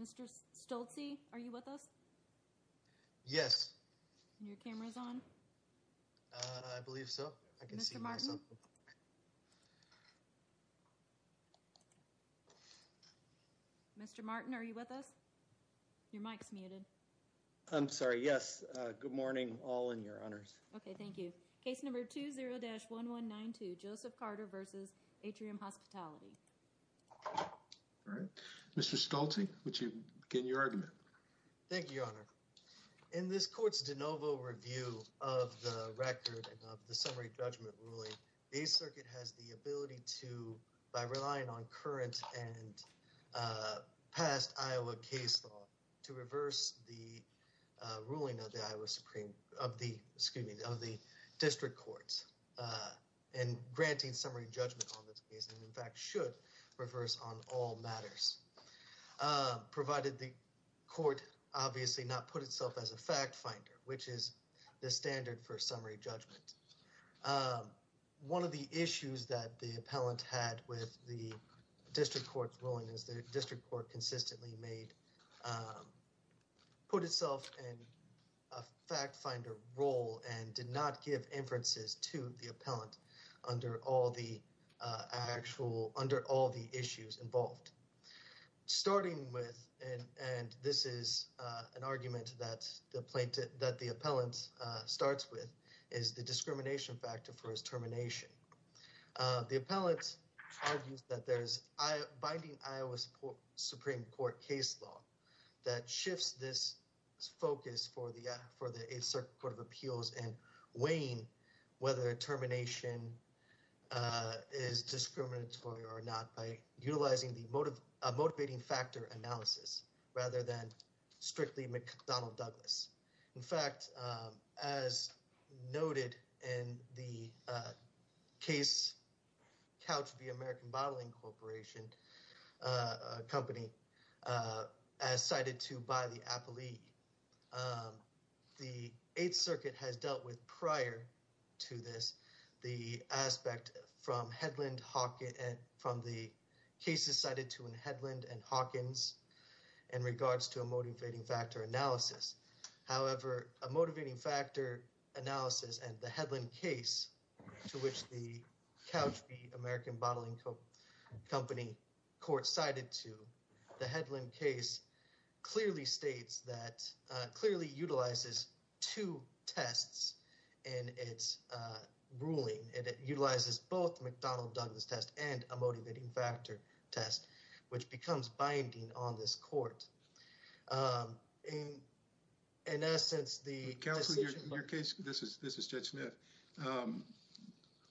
Mr. Stolte, are you with us? Yes. Your camera's on? I believe so. I can see myself. Mr. Martin, are you with us? Your mic's muted. I'm sorry, yes. Good morning, all in your honors. Okay, thank you. Case number 20-1192, Joseph Carter v. Atrium Hospitality. Mr. Stolte, would you begin your argument? Thank you, your honor. In this court's de novo review of the record of the summary judgment ruling, the 8th Circuit has the ability to, by relying on current and past Iowa case law, to reverse the ruling of the District Courts and granting summary judgment on this case. In fact, should reverse on all matters, provided the court obviously not put itself as a fact finder, which is the standard for summary judgment. One of the issues that the appellant had with the District Court's ruling is the District Court consistently made, put itself in a fact finder role and did not give inferences to the appellant under all the actual, under all the issues involved. Starting with, and this is an argument that the plaintiff, that the appellant starts with, is the discrimination factor for his termination. The appellant argues that there's binding Iowa Supreme Court case law that shifts this focus for the 8th Circuit Court of Appeals in weighing whether termination is discriminatory or not by utilizing the motivating factor analysis rather than strictly McDonnell-Douglas. In fact, as noted in the case, Couch v. American Bottling Corporation, a company, as cited to by the appellee, the 8th Circuit has dealt with prior to this the aspect from Headland, Hawkins, from the cases cited to in Headland and Hawkins in regards to a motivating factor analysis. However, a motivating factor analysis and the Headland case to which the Couch v. American Bottling Company court cited to the Headland case clearly states that, clearly utilizes two tests in its ruling. It utilizes both McDonnell-Douglas test and a motivating factor test, which becomes binding on this court. In essence, the... Your case, this is Judge Smith,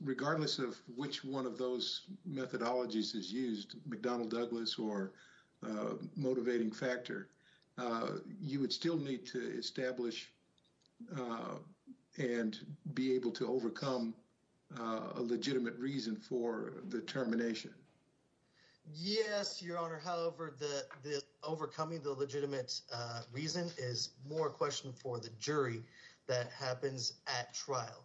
regardless of which one of those methodologies is used, McDonnell-Douglas or motivating factor, you would still need to establish and be able to overcome a legitimate reason for the termination. Yes, Your Honor. However, the overcoming the legitimate reason is more question for the jury that happens at trial.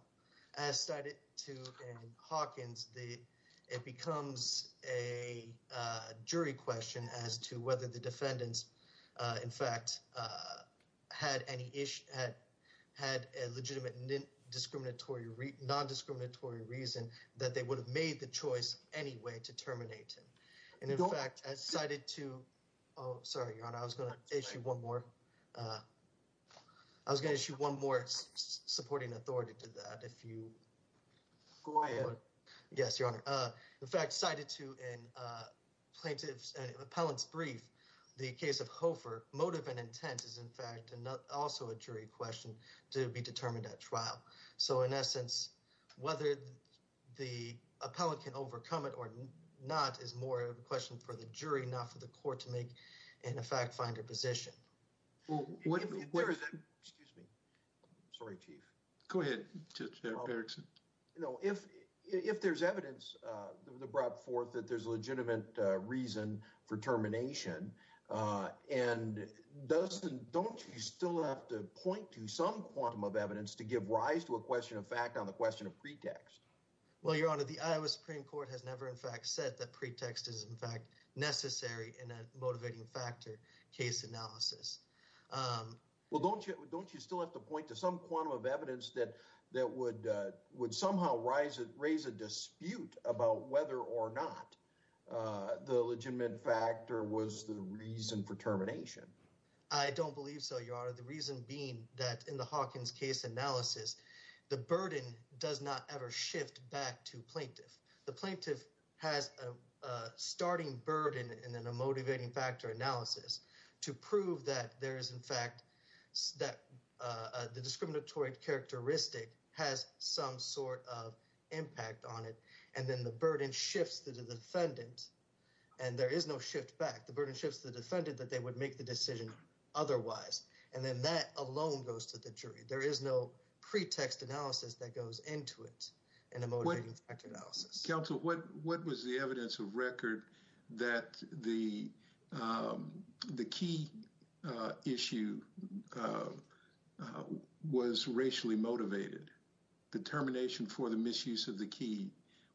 As cited to in Hawkins, it becomes a jury question as to whether the defendants, in fact, had any issue, had a legitimate non-discriminatory reason that they would have made the choice anyway to terminate him. And in fact, as cited to... Oh, sorry, Your Honor. I was going to issue one more. I was going to issue one more supporting authority to that if you... Go ahead. Yes, Your Honor. In fact, cited to in plaintiff's and appellant's brief, the case of Hofer, motive and intent is, in fact, also a jury question to be determined at trial. So, in essence, whether the appellant can overcome it or not is more of a question for the jury, not for the court to make, in effect, find a position. Well, what if... Excuse me. Sorry, Chief. Go ahead. No, if there's evidence brought forth that there's a legitimate reason for termination and doesn't... to give rise to a question of fact on the question of pretext. Well, Your Honor, the Iowa Supreme Court has never, in fact, said that pretext is, in fact, necessary in a motivating factor case analysis. Well, don't you still have to point to some quantum of evidence that would somehow raise a dispute about whether or not the legitimate factor was the reason for termination? I don't believe so, Your Honor. The reason being that in the Hawkins case analysis, the burden does not ever shift back to plaintiff. The plaintiff has a starting burden in a motivating factor analysis to prove that there is, in fact, that the discriminatory characteristic has some sort of impact on it. And then the burden shifts to the defendant. And there is no shift back. The burden shifts to the defendant that they would make the decision otherwise. And then that alone goes to the jury. There is no pretext analysis that goes into it in a motivating factor analysis. Counsel, what was the evidence of record that the key issue was racially motivated? The termination for the misuse of the key.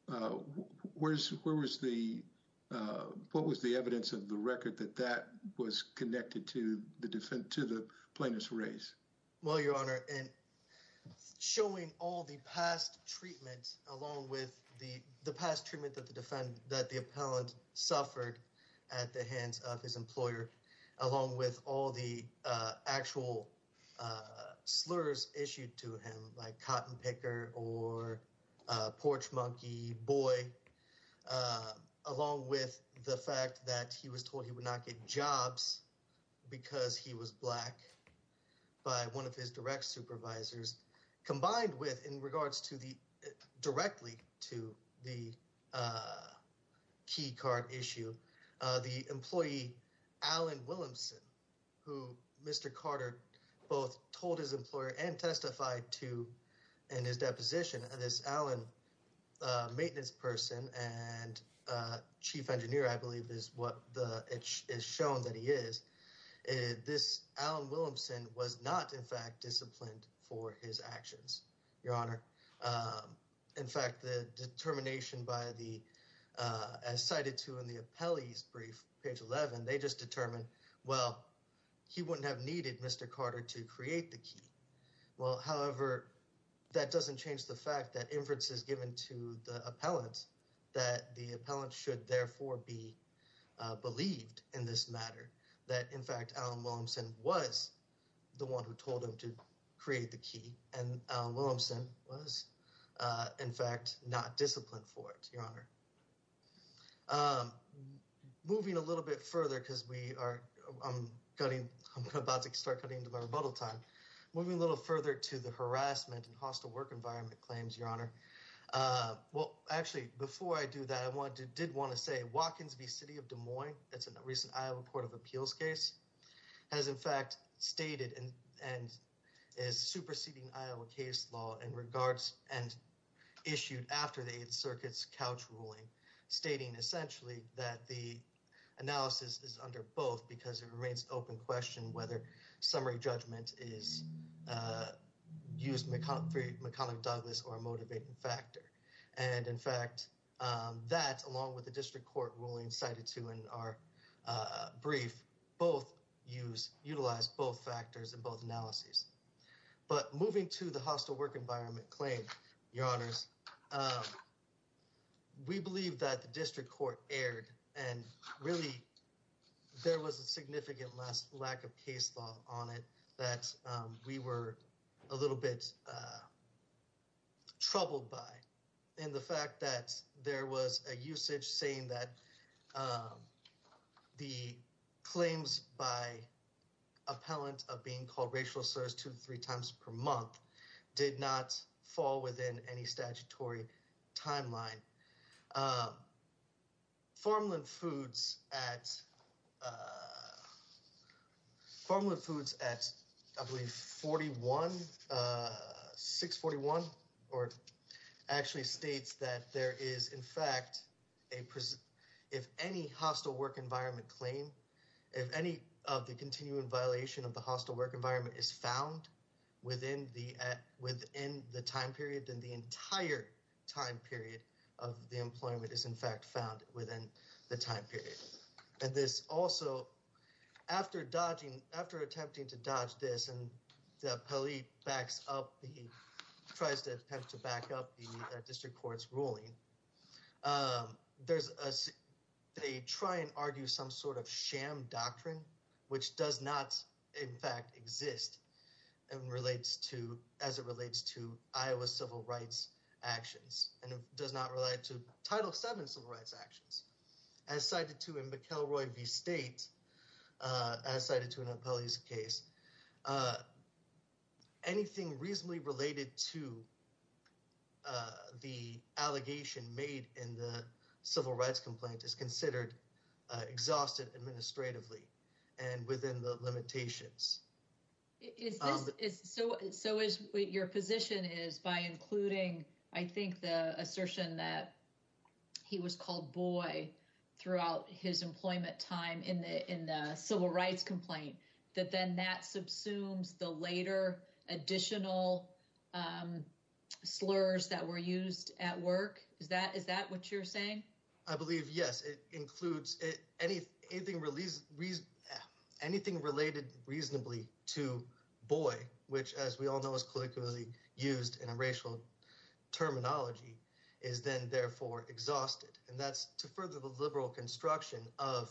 Where was the what was the evidence of the record that that was connected to the defendant to the plaintiff's race? Well, Your Honor, in showing all the past treatment, along with the past treatment that the defendant that the appellant suffered at the hands of his employer, along with all the actual slurs issued to him by cotton picker or porch monkey boy, along with the fact that he was told he would not get jobs because he was black. By one of his direct supervisors, combined with in regards to the directly to the key card issue, the employee, Alan Williamson, who Mr. Carter both told his employer and testified to in his deposition. This Alan maintenance person and chief engineer, I believe, is what is shown that he is this. Alan Williamson was not, in fact, disciplined for his actions. Your Honor. In fact, the determination by the cited to in the appellee's brief page 11, they just determined, well, he wouldn't have needed Mr. Carter to create the key. Well, however, that doesn't change the fact that inferences given to the appellant that the appellant should therefore be believed in this matter that, in fact, Alan Williamson was the one who told him to create the key. And Williamson was, in fact, not disciplined for it. Your Honor. Moving a little bit further because we are cutting. I'm about to start cutting into my rebuttal time moving a little further to the harassment and hostile work environment claims. Your Honor. Well, actually, before I do that, I want to did want to say Watkins v. That's a recent Iowa Court of Appeals case has, in fact, stated and is superseding Iowa case law in regards and issued after the circuits couch ruling, stating essentially that the analysis is under both because it remains open question whether summary judgment is used. And in fact, that's along with the district court ruling cited to in our brief, both use utilize both factors and both analyses. But moving to the hostile work environment claim, your honors. We believe that the district court erred and really there was a significant less lack of case law on it that we were a little bit troubled by. In the fact that there was a usage saying that the claims by appellant of being called racial slurs to three times per month did not fall within any statutory timeline. Formal and foods at. Formal foods at forty one, six, forty one or actually states that there is, in fact, a if any hostile work environment claim, if any of the continuing violation of the hostile work environment is found within the within the time period and the entire time period of the employment is, in fact, found within the time period. And this also after dodging after attempting to dodge this and the police backs up, he tries to attempt to back up the district court's ruling. There's a they try and argue some sort of sham doctrine, which does not, in fact, exist and relates to as it relates to Iowa civil rights actions and does not relate to title seven civil rights actions. As cited to him, McElroy v. State as cited to an appellee's case. Anything reasonably related to the allegation made in the civil rights complaint is considered exhausted administratively and within the limitations. So so is your position is by including, I think, the assertion that he was called boy throughout his employment time in the in the civil rights complaint that then that subsumes the later additional slurs that were used at work. Is that is that what you're saying? I believe, yes, it includes it. Any anything released? Anything related reasonably to boy, which, as we all know, is colloquially used in a racial terminology is then therefore exhausted. And that's to further the liberal construction of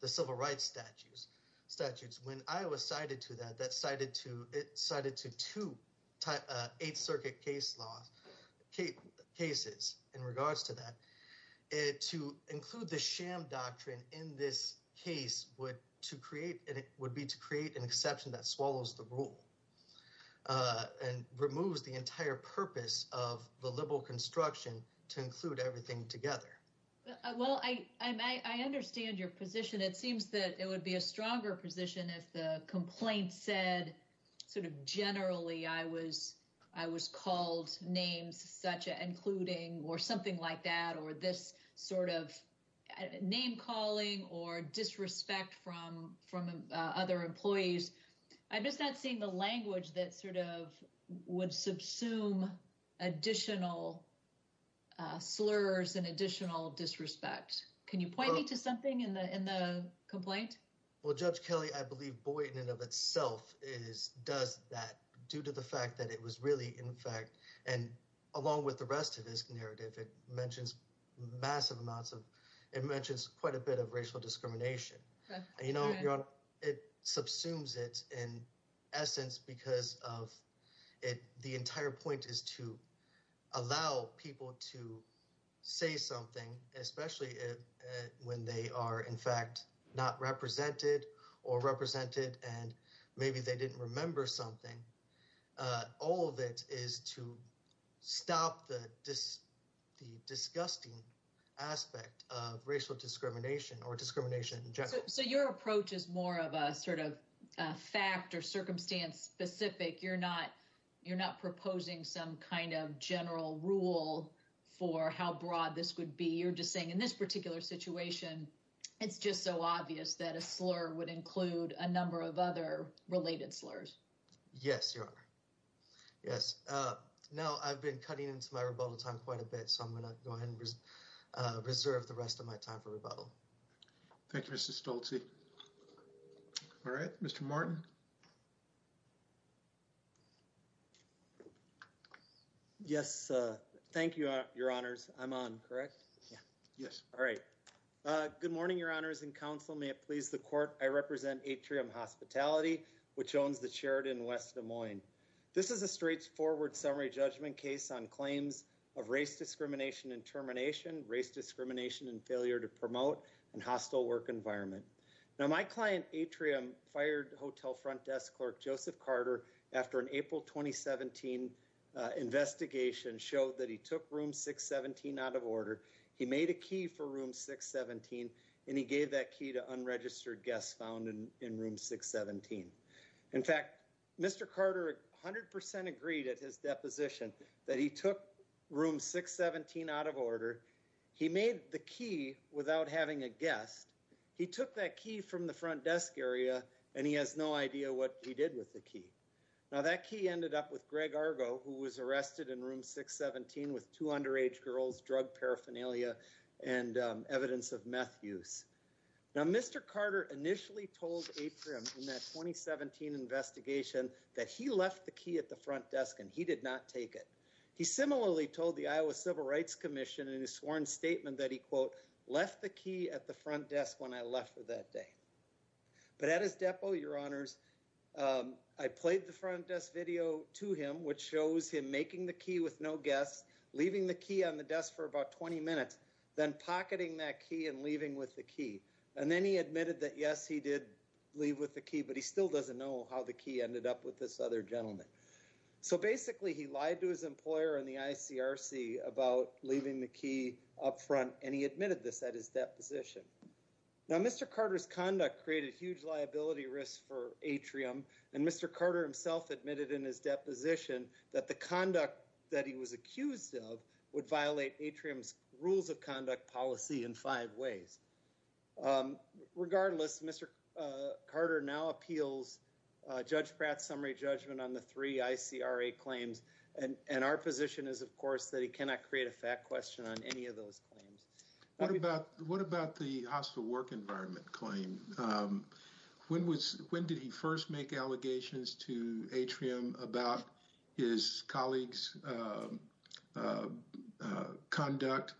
the civil rights statutes statutes. When I was cited to that, that cited to it cited to to type a circuit case law cases in regards to that to include the sham doctrine in this case would to create it would be to create an exception that swallows the rule and removes the entire purpose of the liberal construction to include everything together. Well, I I understand your position. It seems that it would be a stronger position if the complaint said sort of generally I was I was called names such including or something like that or this sort of name calling or disrespect from from other employees. I'm just not seeing the language that sort of would subsume additional slurs and additional disrespect. Can you point me to something in the in the complaint? Well, Judge Kelly, I believe boy in and of itself is does that due to the fact that it was really, in fact, and along with the rest of this narrative, it mentions massive amounts of it mentions quite a bit of racial discrimination. You know, it subsumes it in essence because of it. The entire point is to allow people to say something, especially when they are, in fact, not represented or represented. And maybe they didn't remember something. All of it is to stop the dis the disgusting aspect of racial discrimination or discrimination. So your approach is more of a sort of fact or circumstance specific. You're not you're not proposing some kind of general rule for how broad this would be. You're just saying in this particular situation, it's just so obvious that a slur would include a number of other related slurs. Yes, you are. Yes. No, I've been cutting into my rebuttal time quite a bit. So I'm going to go ahead and reserve the rest of my time for rebuttal. Thank you, Mr. Stolte. All right, Mr. Martin. Yes. Thank you, your honors. I'm on correct. Yes. All right. Good morning, your honors and counsel. May it please the court. I represent Atrium Hospitality, which owns the Sheridan West Des Moines. This is a straightforward summary judgment case on claims of race discrimination and termination, race discrimination and failure to promote and hostile work environment. Now, my client, Atrium, fired hotel front desk clerk Joseph Carter after an April 2017 investigation showed that he took room 617 out of order. He made a key for room 617, and he gave that key to unregistered guests found in room 617. In fact, Mr. Carter 100% agreed at his deposition that he took room 617 out of order. He made the key without having a guest. He took that key from the front desk area, and he has no idea what he did with the key. Now, that key ended up with Greg Argo, who was arrested in room 617 with two underage girls, drug paraphernalia, and evidence of meth use. Now, Mr. Carter initially told Atrium in that 2017 investigation that he left the key at the front desk and he did not take it. He similarly told the Iowa Civil Rights Commission in his sworn statement that he, quote, left the key at the front desk when I left for that day. But at his depo, your honors, I played the front desk video to him, which shows him making the key with no guests, leaving the key on the desk for about 20 minutes, then pocketing that key and leaving with the key. And then he admitted that, yes, he did leave with the key, but he still doesn't know how the key ended up with this other gentleman. So basically, he lied to his employer and the ICRC about leaving the key up front, and he admitted this at his deposition. Now, Mr. Carter's conduct created huge liability risks for Atrium, and Mr. Carter himself admitted in his deposition that the conduct that he was accused of would violate Atrium's rules of conduct policy in five ways. Regardless, Mr. Carter now appeals Judge Pratt's summary judgment on the three ICRA claims, and our position is, of course, that he cannot create a fact question on any of those claims. What about the hostile work environment claim? When did he first make allegations to Atrium about his colleagues' conduct,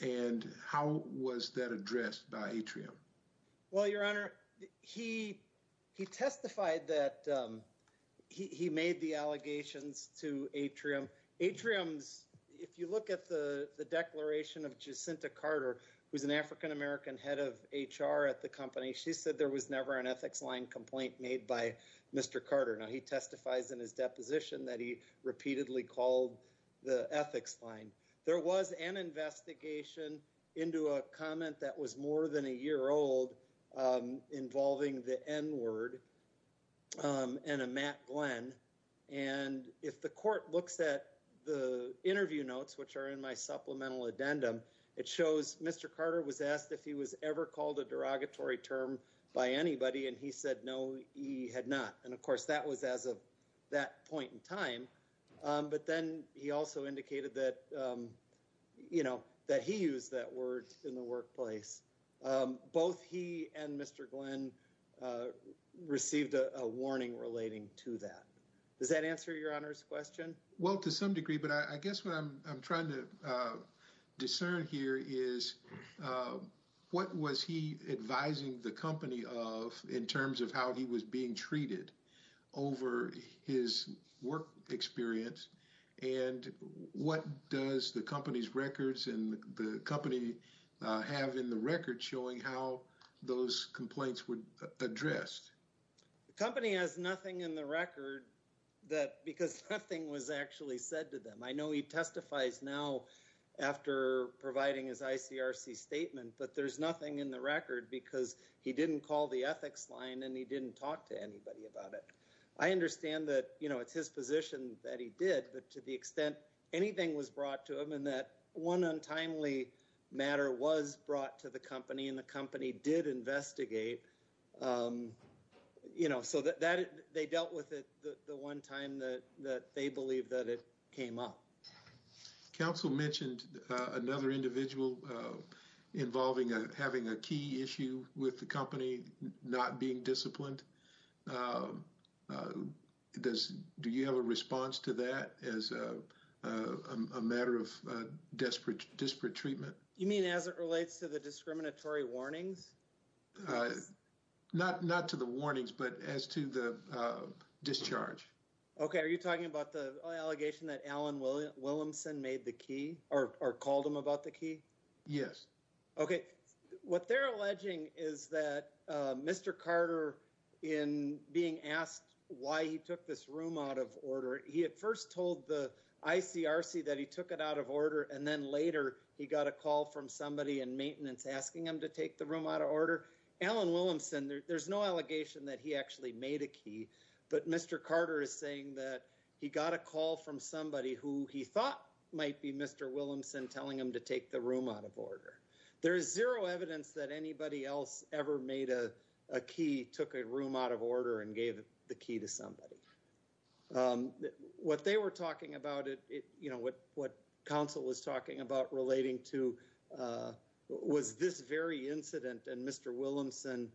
and how was that addressed by Atrium? Well, your honor, he testified that he made the allegations to Atrium. Atrium's, if you look at the declaration of Jacinta Carter, who's an African-American head of HR at the company, she said there was never an ethics line complaint made by Mr. Carter. Now, he testifies in his deposition that he repeatedly called the ethics line. There was an investigation into a comment that was more than a year old involving the N-word and a Matt Glenn, and if the court looks at the interview notes, which are in my supplemental addendum, it shows Mr. Carter was asked if he was ever called a derogatory term by anybody, and he said no, he had not. And, of course, that was as of that point in time, but then he also indicated that, you know, that he used that word in the workplace. Both he and Mr. Glenn received a warning relating to that. Does that answer your honor's question? Well, to some degree, but I guess what I'm trying to discern here is what was he advising the company of in terms of how he was being treated over his work experience, and what does the company's records and the company have in the record showing how those complaints were addressed? The company has nothing in the record because nothing was actually said to them. I know he testifies now after providing his ICRC statement, but there's nothing in the record because he didn't call the ethics line and he didn't talk to anybody about it. I understand that, you know, it's his position that he did, but to the extent anything was brought to him and that one untimely matter was brought to the company and the company did investigate, you know, so that they dealt with it the one time that they believe that it came up. Counsel mentioned another individual involving having a key issue with the company not being disciplined. Do you have a response to that as a matter of desperate treatment? You mean as it relates to the discriminatory warnings? Not to the warnings, but as to the discharge. Okay, are you talking about the allegation that Alan Williamson made the key or called him about the key? Yes. Okay. What they're alleging is that Mr. Carter, in being asked why he took this room out of order, he at first told the ICRC that he took it out of order, and then later he got a call from somebody in maintenance asking him to take the room out of order. There's no allegation that he actually made a key, but Mr. Carter is saying that he got a call from somebody who he thought might be Mr. Williamson telling him to take the room out of order. There is zero evidence that anybody else ever made a key, took a room out of order, and gave the key to somebody. What they were talking about, you know, what counsel was talking about relating to was this very incident and Mr. Williamson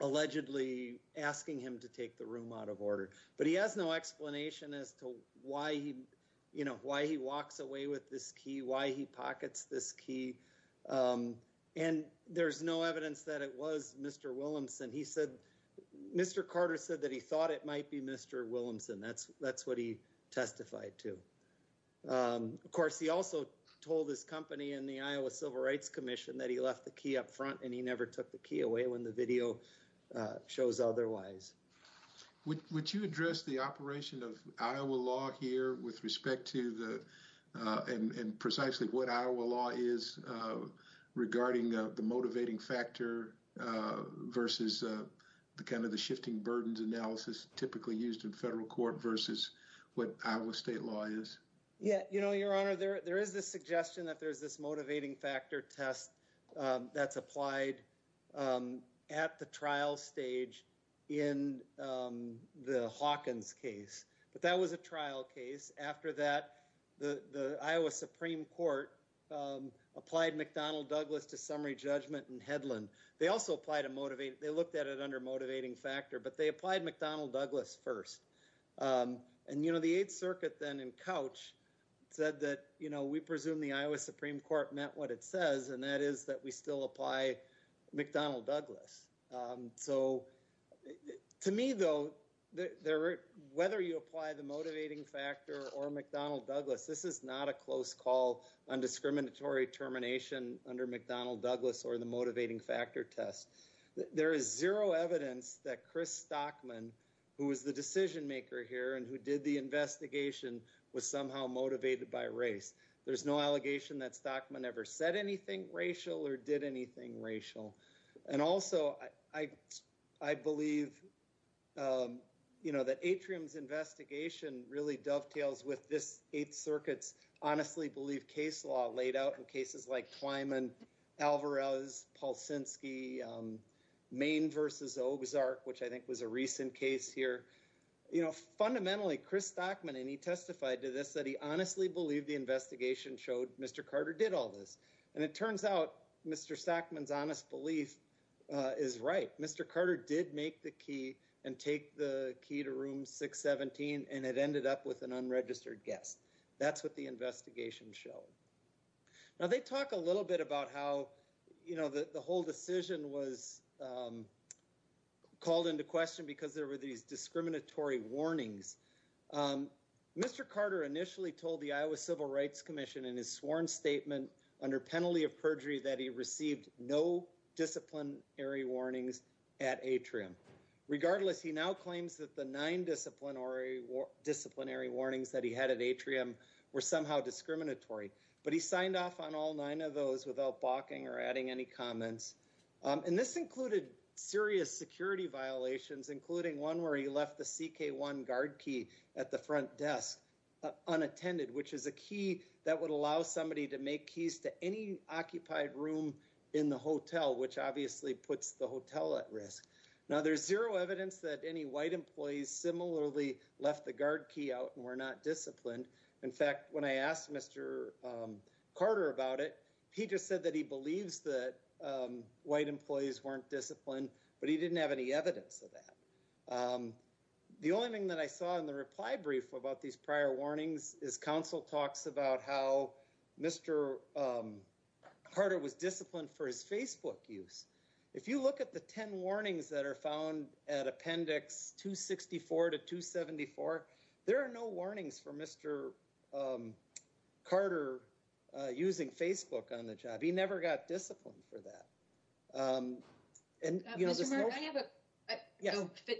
allegedly asking him to take the room out of order. But he has no explanation as to why he walks away with this key, why he pockets this key, and there's no evidence that it was Mr. Williamson. He said Mr. Carter said that he thought it might be Mr. Williamson. That's what he testified to. Of course, he also told his company and the Iowa Civil Rights Commission that he left the key up front and he never took the key away when the video shows otherwise. Would you address the operation of Iowa law here with respect to the— and precisely what Iowa law is regarding the motivating factor versus kind of the shifting burdens analysis typically used in federal court versus what Iowa state law is? Yeah, you know, Your Honor, there is this suggestion that there is this motivating factor test that's applied at the trial stage in the Hawkins case, but that was a trial case. After that, the Iowa Supreme Court applied McDonnell-Douglas to summary judgment in Hedlund. They also applied a—they looked at it under motivating factor, but they applied McDonnell-Douglas first. And, you know, the Eighth Circuit then in Couch said that, you know, we presume the Iowa Supreme Court meant what it says, and that is that we still apply McDonnell-Douglas. So to me, though, whether you apply the motivating factor or McDonnell-Douglas, this is not a close call on discriminatory termination under McDonnell-Douglas or the motivating factor test. There is zero evidence that Chris Stockman, who was the decision maker here and who did the investigation, was somehow motivated by race. There's no allegation that Stockman ever said anything racial or did anything racial. And also, I believe, you know, that Atrium's investigation really dovetails with this Eighth Circuit's honestly-believed case law laid out in cases like Twyman, Alvarez, Pulsinski, Maine v. Ogsark, which I think was a recent case here. You know, fundamentally, Chris Stockman, and he testified to this, that he honestly believed the investigation showed Mr. Carter did all this. And it turns out Mr. Stockman's honest belief is right. Mr. Carter did make the key and take the key to Room 617, and it ended up with an unregistered guest. That's what the investigation showed. Now, they talk a little bit about how, you know, the whole decision was called into question because there were these discriminatory warnings. Mr. Carter initially told the Iowa Civil Rights Commission in his sworn statement under penalty of perjury that he received no disciplinary warnings at Atrium. Regardless, he now claims that the nine disciplinary warnings that he had at Atrium were somehow discriminatory. But he signed off on all nine of those without balking or adding any comments. And this included serious security violations, including one where he left the CK1 guard key at the front desk unattended, which is a key that would allow somebody to make keys to any occupied room in the hotel, which obviously puts the hotel at risk. Now, there's zero evidence that any white employees similarly left the guard key out and were not disciplined. In fact, when I asked Mr. Carter about it, he just said that he believes that white employees weren't disciplined, but he didn't have any evidence of that. The only thing that I saw in the reply brief about these prior warnings is counsel talks about how Mr. Carter was disciplined for his Facebook use. If you look at the 10 warnings that are found at Appendix 264 to 274, there are no warnings for Mr. Carter using Facebook on the job. He never got disciplined for that.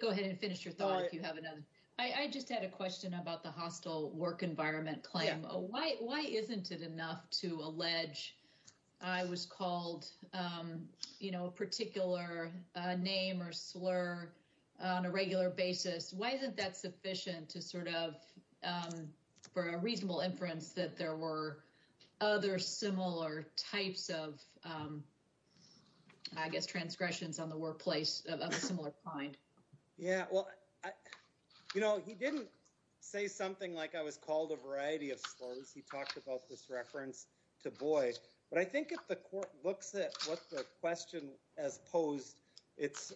Go ahead and finish your thought if you have another. I just had a question about the hostile work environment claim. Why isn't it enough to allege I was called a particular name or slur on a regular basis? Why isn't that sufficient to sort of, for a reasonable inference, that there were other similar types of, I guess, transgressions on the workplace of a similar kind? Yeah, well, he didn't say something like I was called a variety of slurs. He talked about this reference to Boyd. But I think if the court looks at what the question has posed, it's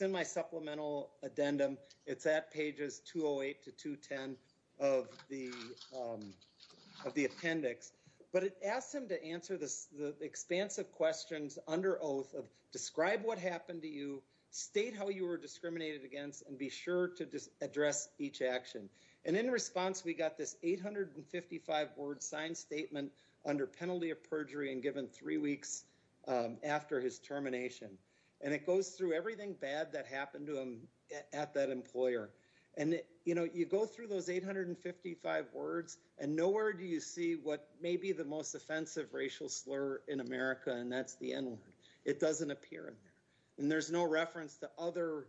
in my supplemental addendum. It's at pages 208 to 210 of the appendix. But it asks him to answer the expansive questions under oath of describe what happened to you, state how you were discriminated against, and be sure to address each action. And in response, we got this 855-word signed statement under penalty of perjury and given three weeks after his termination. And it goes through everything bad that happened to him at that employer. And, you know, you go through those 855 words, and nowhere do you see what may be the most offensive racial slur in America, and that's the N-word. It doesn't appear in there. And there's no reference to other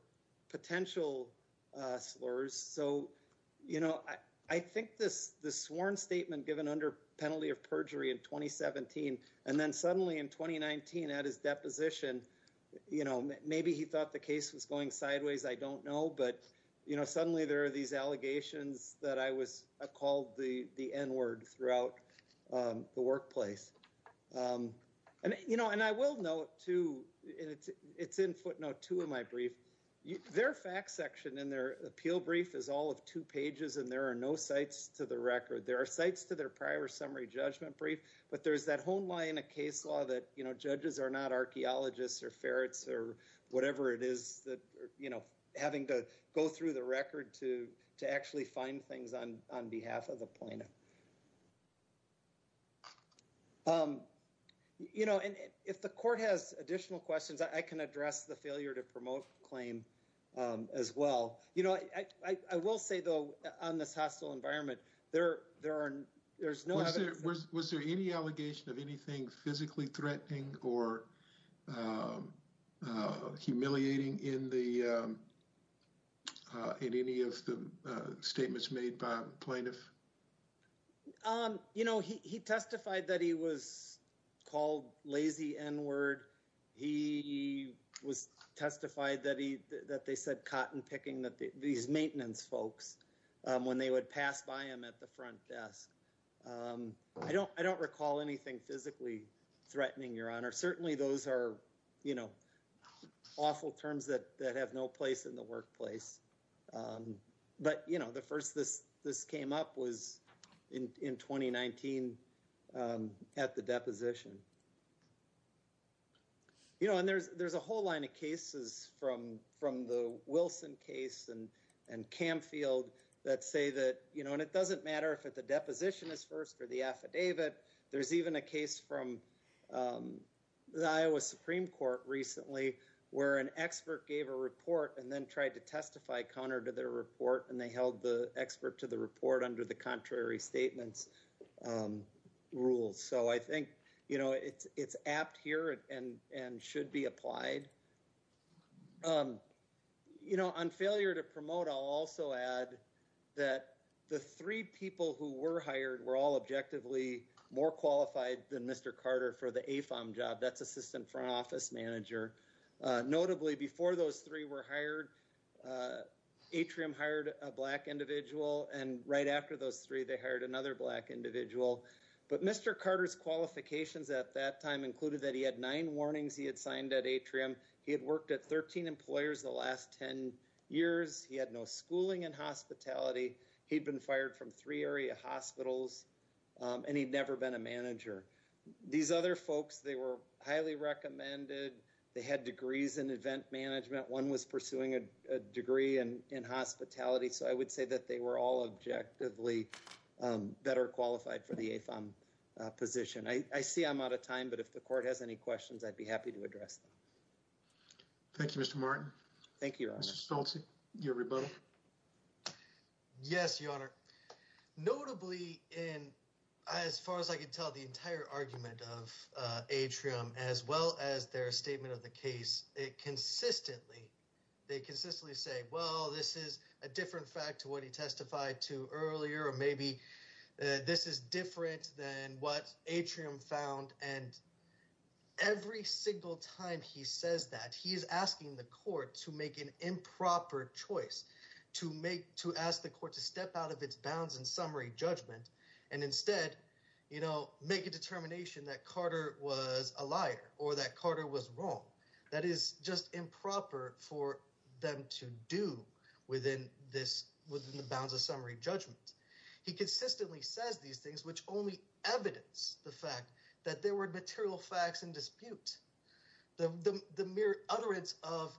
potential slurs. So, you know, I think this sworn statement given under penalty of perjury in 2017, and then suddenly in 2019 at his deposition, you know, maybe he thought the case was going sideways. I don't know. But, you know, suddenly there are these allegations that I was called the N-word throughout the workplace. And, you know, and I will note, too, and it's in footnote two of my brief, their fact section in their appeal brief is all of two pages, and there are no sites to the record. There are sites to their prior summary judgment brief, but there's that home lie in a case law that, you know, judges are not archaeologists or ferrets or whatever it is that, you know, having to go through the record to actually find things on behalf of the plaintiff. You know, and if the court has additional questions, I can address the failure to promote the claim as well. You know, I will say, though, on this hostile environment, there's no evidence. Was there any allegation of anything physically threatening or humiliating in any of the statements made by the plaintiff? You know, he testified that he was called lazy N-word. He testified that they said cotton picking, these maintenance folks, when they would pass by him at the front desk. I don't recall anything physically threatening, Your Honor. Certainly those are, you know, awful terms that have no place in the workplace. But, you know, the first this came up was in 2019 at the deposition. You know, and there's a whole line of cases from the Wilson case and Camfield that say that, you know, and it doesn't matter if the deposition is first or the affidavit. There's even a case from the Iowa Supreme Court recently where an expert gave a report and then tried to testify counter to their report, and they held the expert to the report under the contrary statements rules. So I think, you know, it's apt here and should be applied. You know, on failure to promote, I'll also add that the three people who were hired were all objectively more qualified than Mr. Carter for the AFOM job. That's assistant front office manager. Notably, before those three were hired, Atrium hired a black individual, and right after those three, they hired another black individual. But Mr. Carter's qualifications at that time included that he had nine warnings he had signed at Atrium. He had worked at 13 employers the last 10 years. He had no schooling and hospitality. He'd been fired from three area hospitals, and he'd never been a manager. These other folks, they were highly recommended. They had degrees in event management. One was pursuing a degree in hospitality. So I would say that they were all objectively better qualified for the AFOM position. I see I'm out of time, but if the court has any questions, I'd be happy to address them. Thank you, Mr. Martin. Thank you, Your Honor. Mr. Stolte, your rebuttal. Yes, Your Honor. Notably, as far as I can tell, the entire argument of Atrium, as well as their statement of the case, they consistently say, well, this is a different fact to what he testified to earlier, or maybe this is different than what Atrium found. And every single time he says that, he is asking the court to make an improper choice, to ask the court to step out of its bounds and summary judgment, and instead make a determination that Carter was a liar or that Carter was wrong. That is just improper for them to do within the bounds of summary judgment. He consistently says these things, which only evidence the fact that there were material facts in dispute. The mere utterance of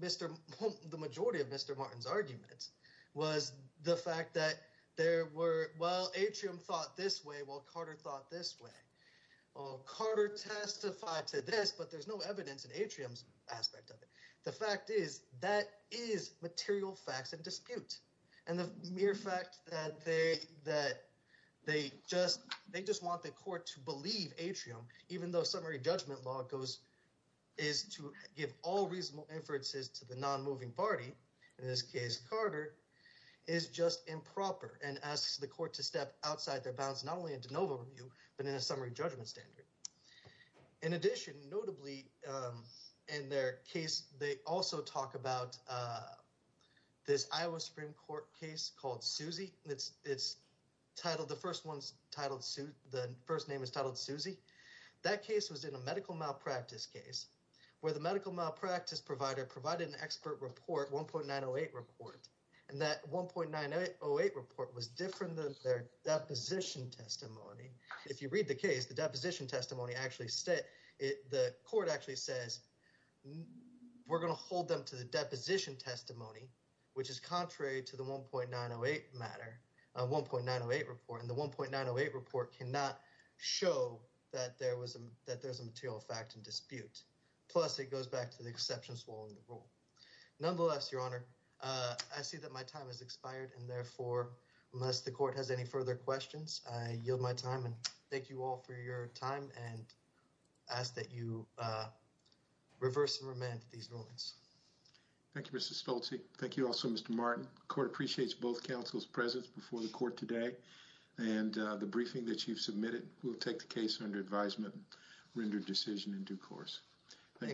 the majority of Mr. Martin's arguments was the fact that there were, well, Atrium thought this way, while Carter thought this way. Carter testified to this, but there's no evidence in Atrium's aspect of it. The fact is, that is material facts in dispute. And the mere fact that they just want the court to believe Atrium, even though summary judgment law is to give all reasonable inferences to the non-moving party, in this case Carter, is just improper and asks the court to step outside their bounds, not only in de novo review, but in a summary judgment standard. In addition, notably in their case, they also talk about this Iowa Supreme Court case called Suzy. The first name is titled Suzy. That case was in a medical malpractice case, where the medical malpractice provider provided an expert report, 1.908 report. And that 1.908 report was different than their deposition testimony. If you read the case, the deposition testimony actually states, the court actually says, we're going to hold them to the deposition testimony, which is contrary to the 1.908 matter, 1.908 report. And the 1.908 report cannot show that there was, that there's a material fact in dispute. Plus it goes back to the exception swallowing the rule. Nonetheless, Your Honor, I see that my time has expired. And therefore, unless the court has any further questions, I yield my time. And thank you all for your time and ask that you reverse and remand these rulings. Thank you, Mr. Stolte. Thank you also, Mr. Martin. Court appreciates both counsel's presence before the court today. And the briefing that you've submitted will take the case under advisement, rendered decision in due course. Thank you.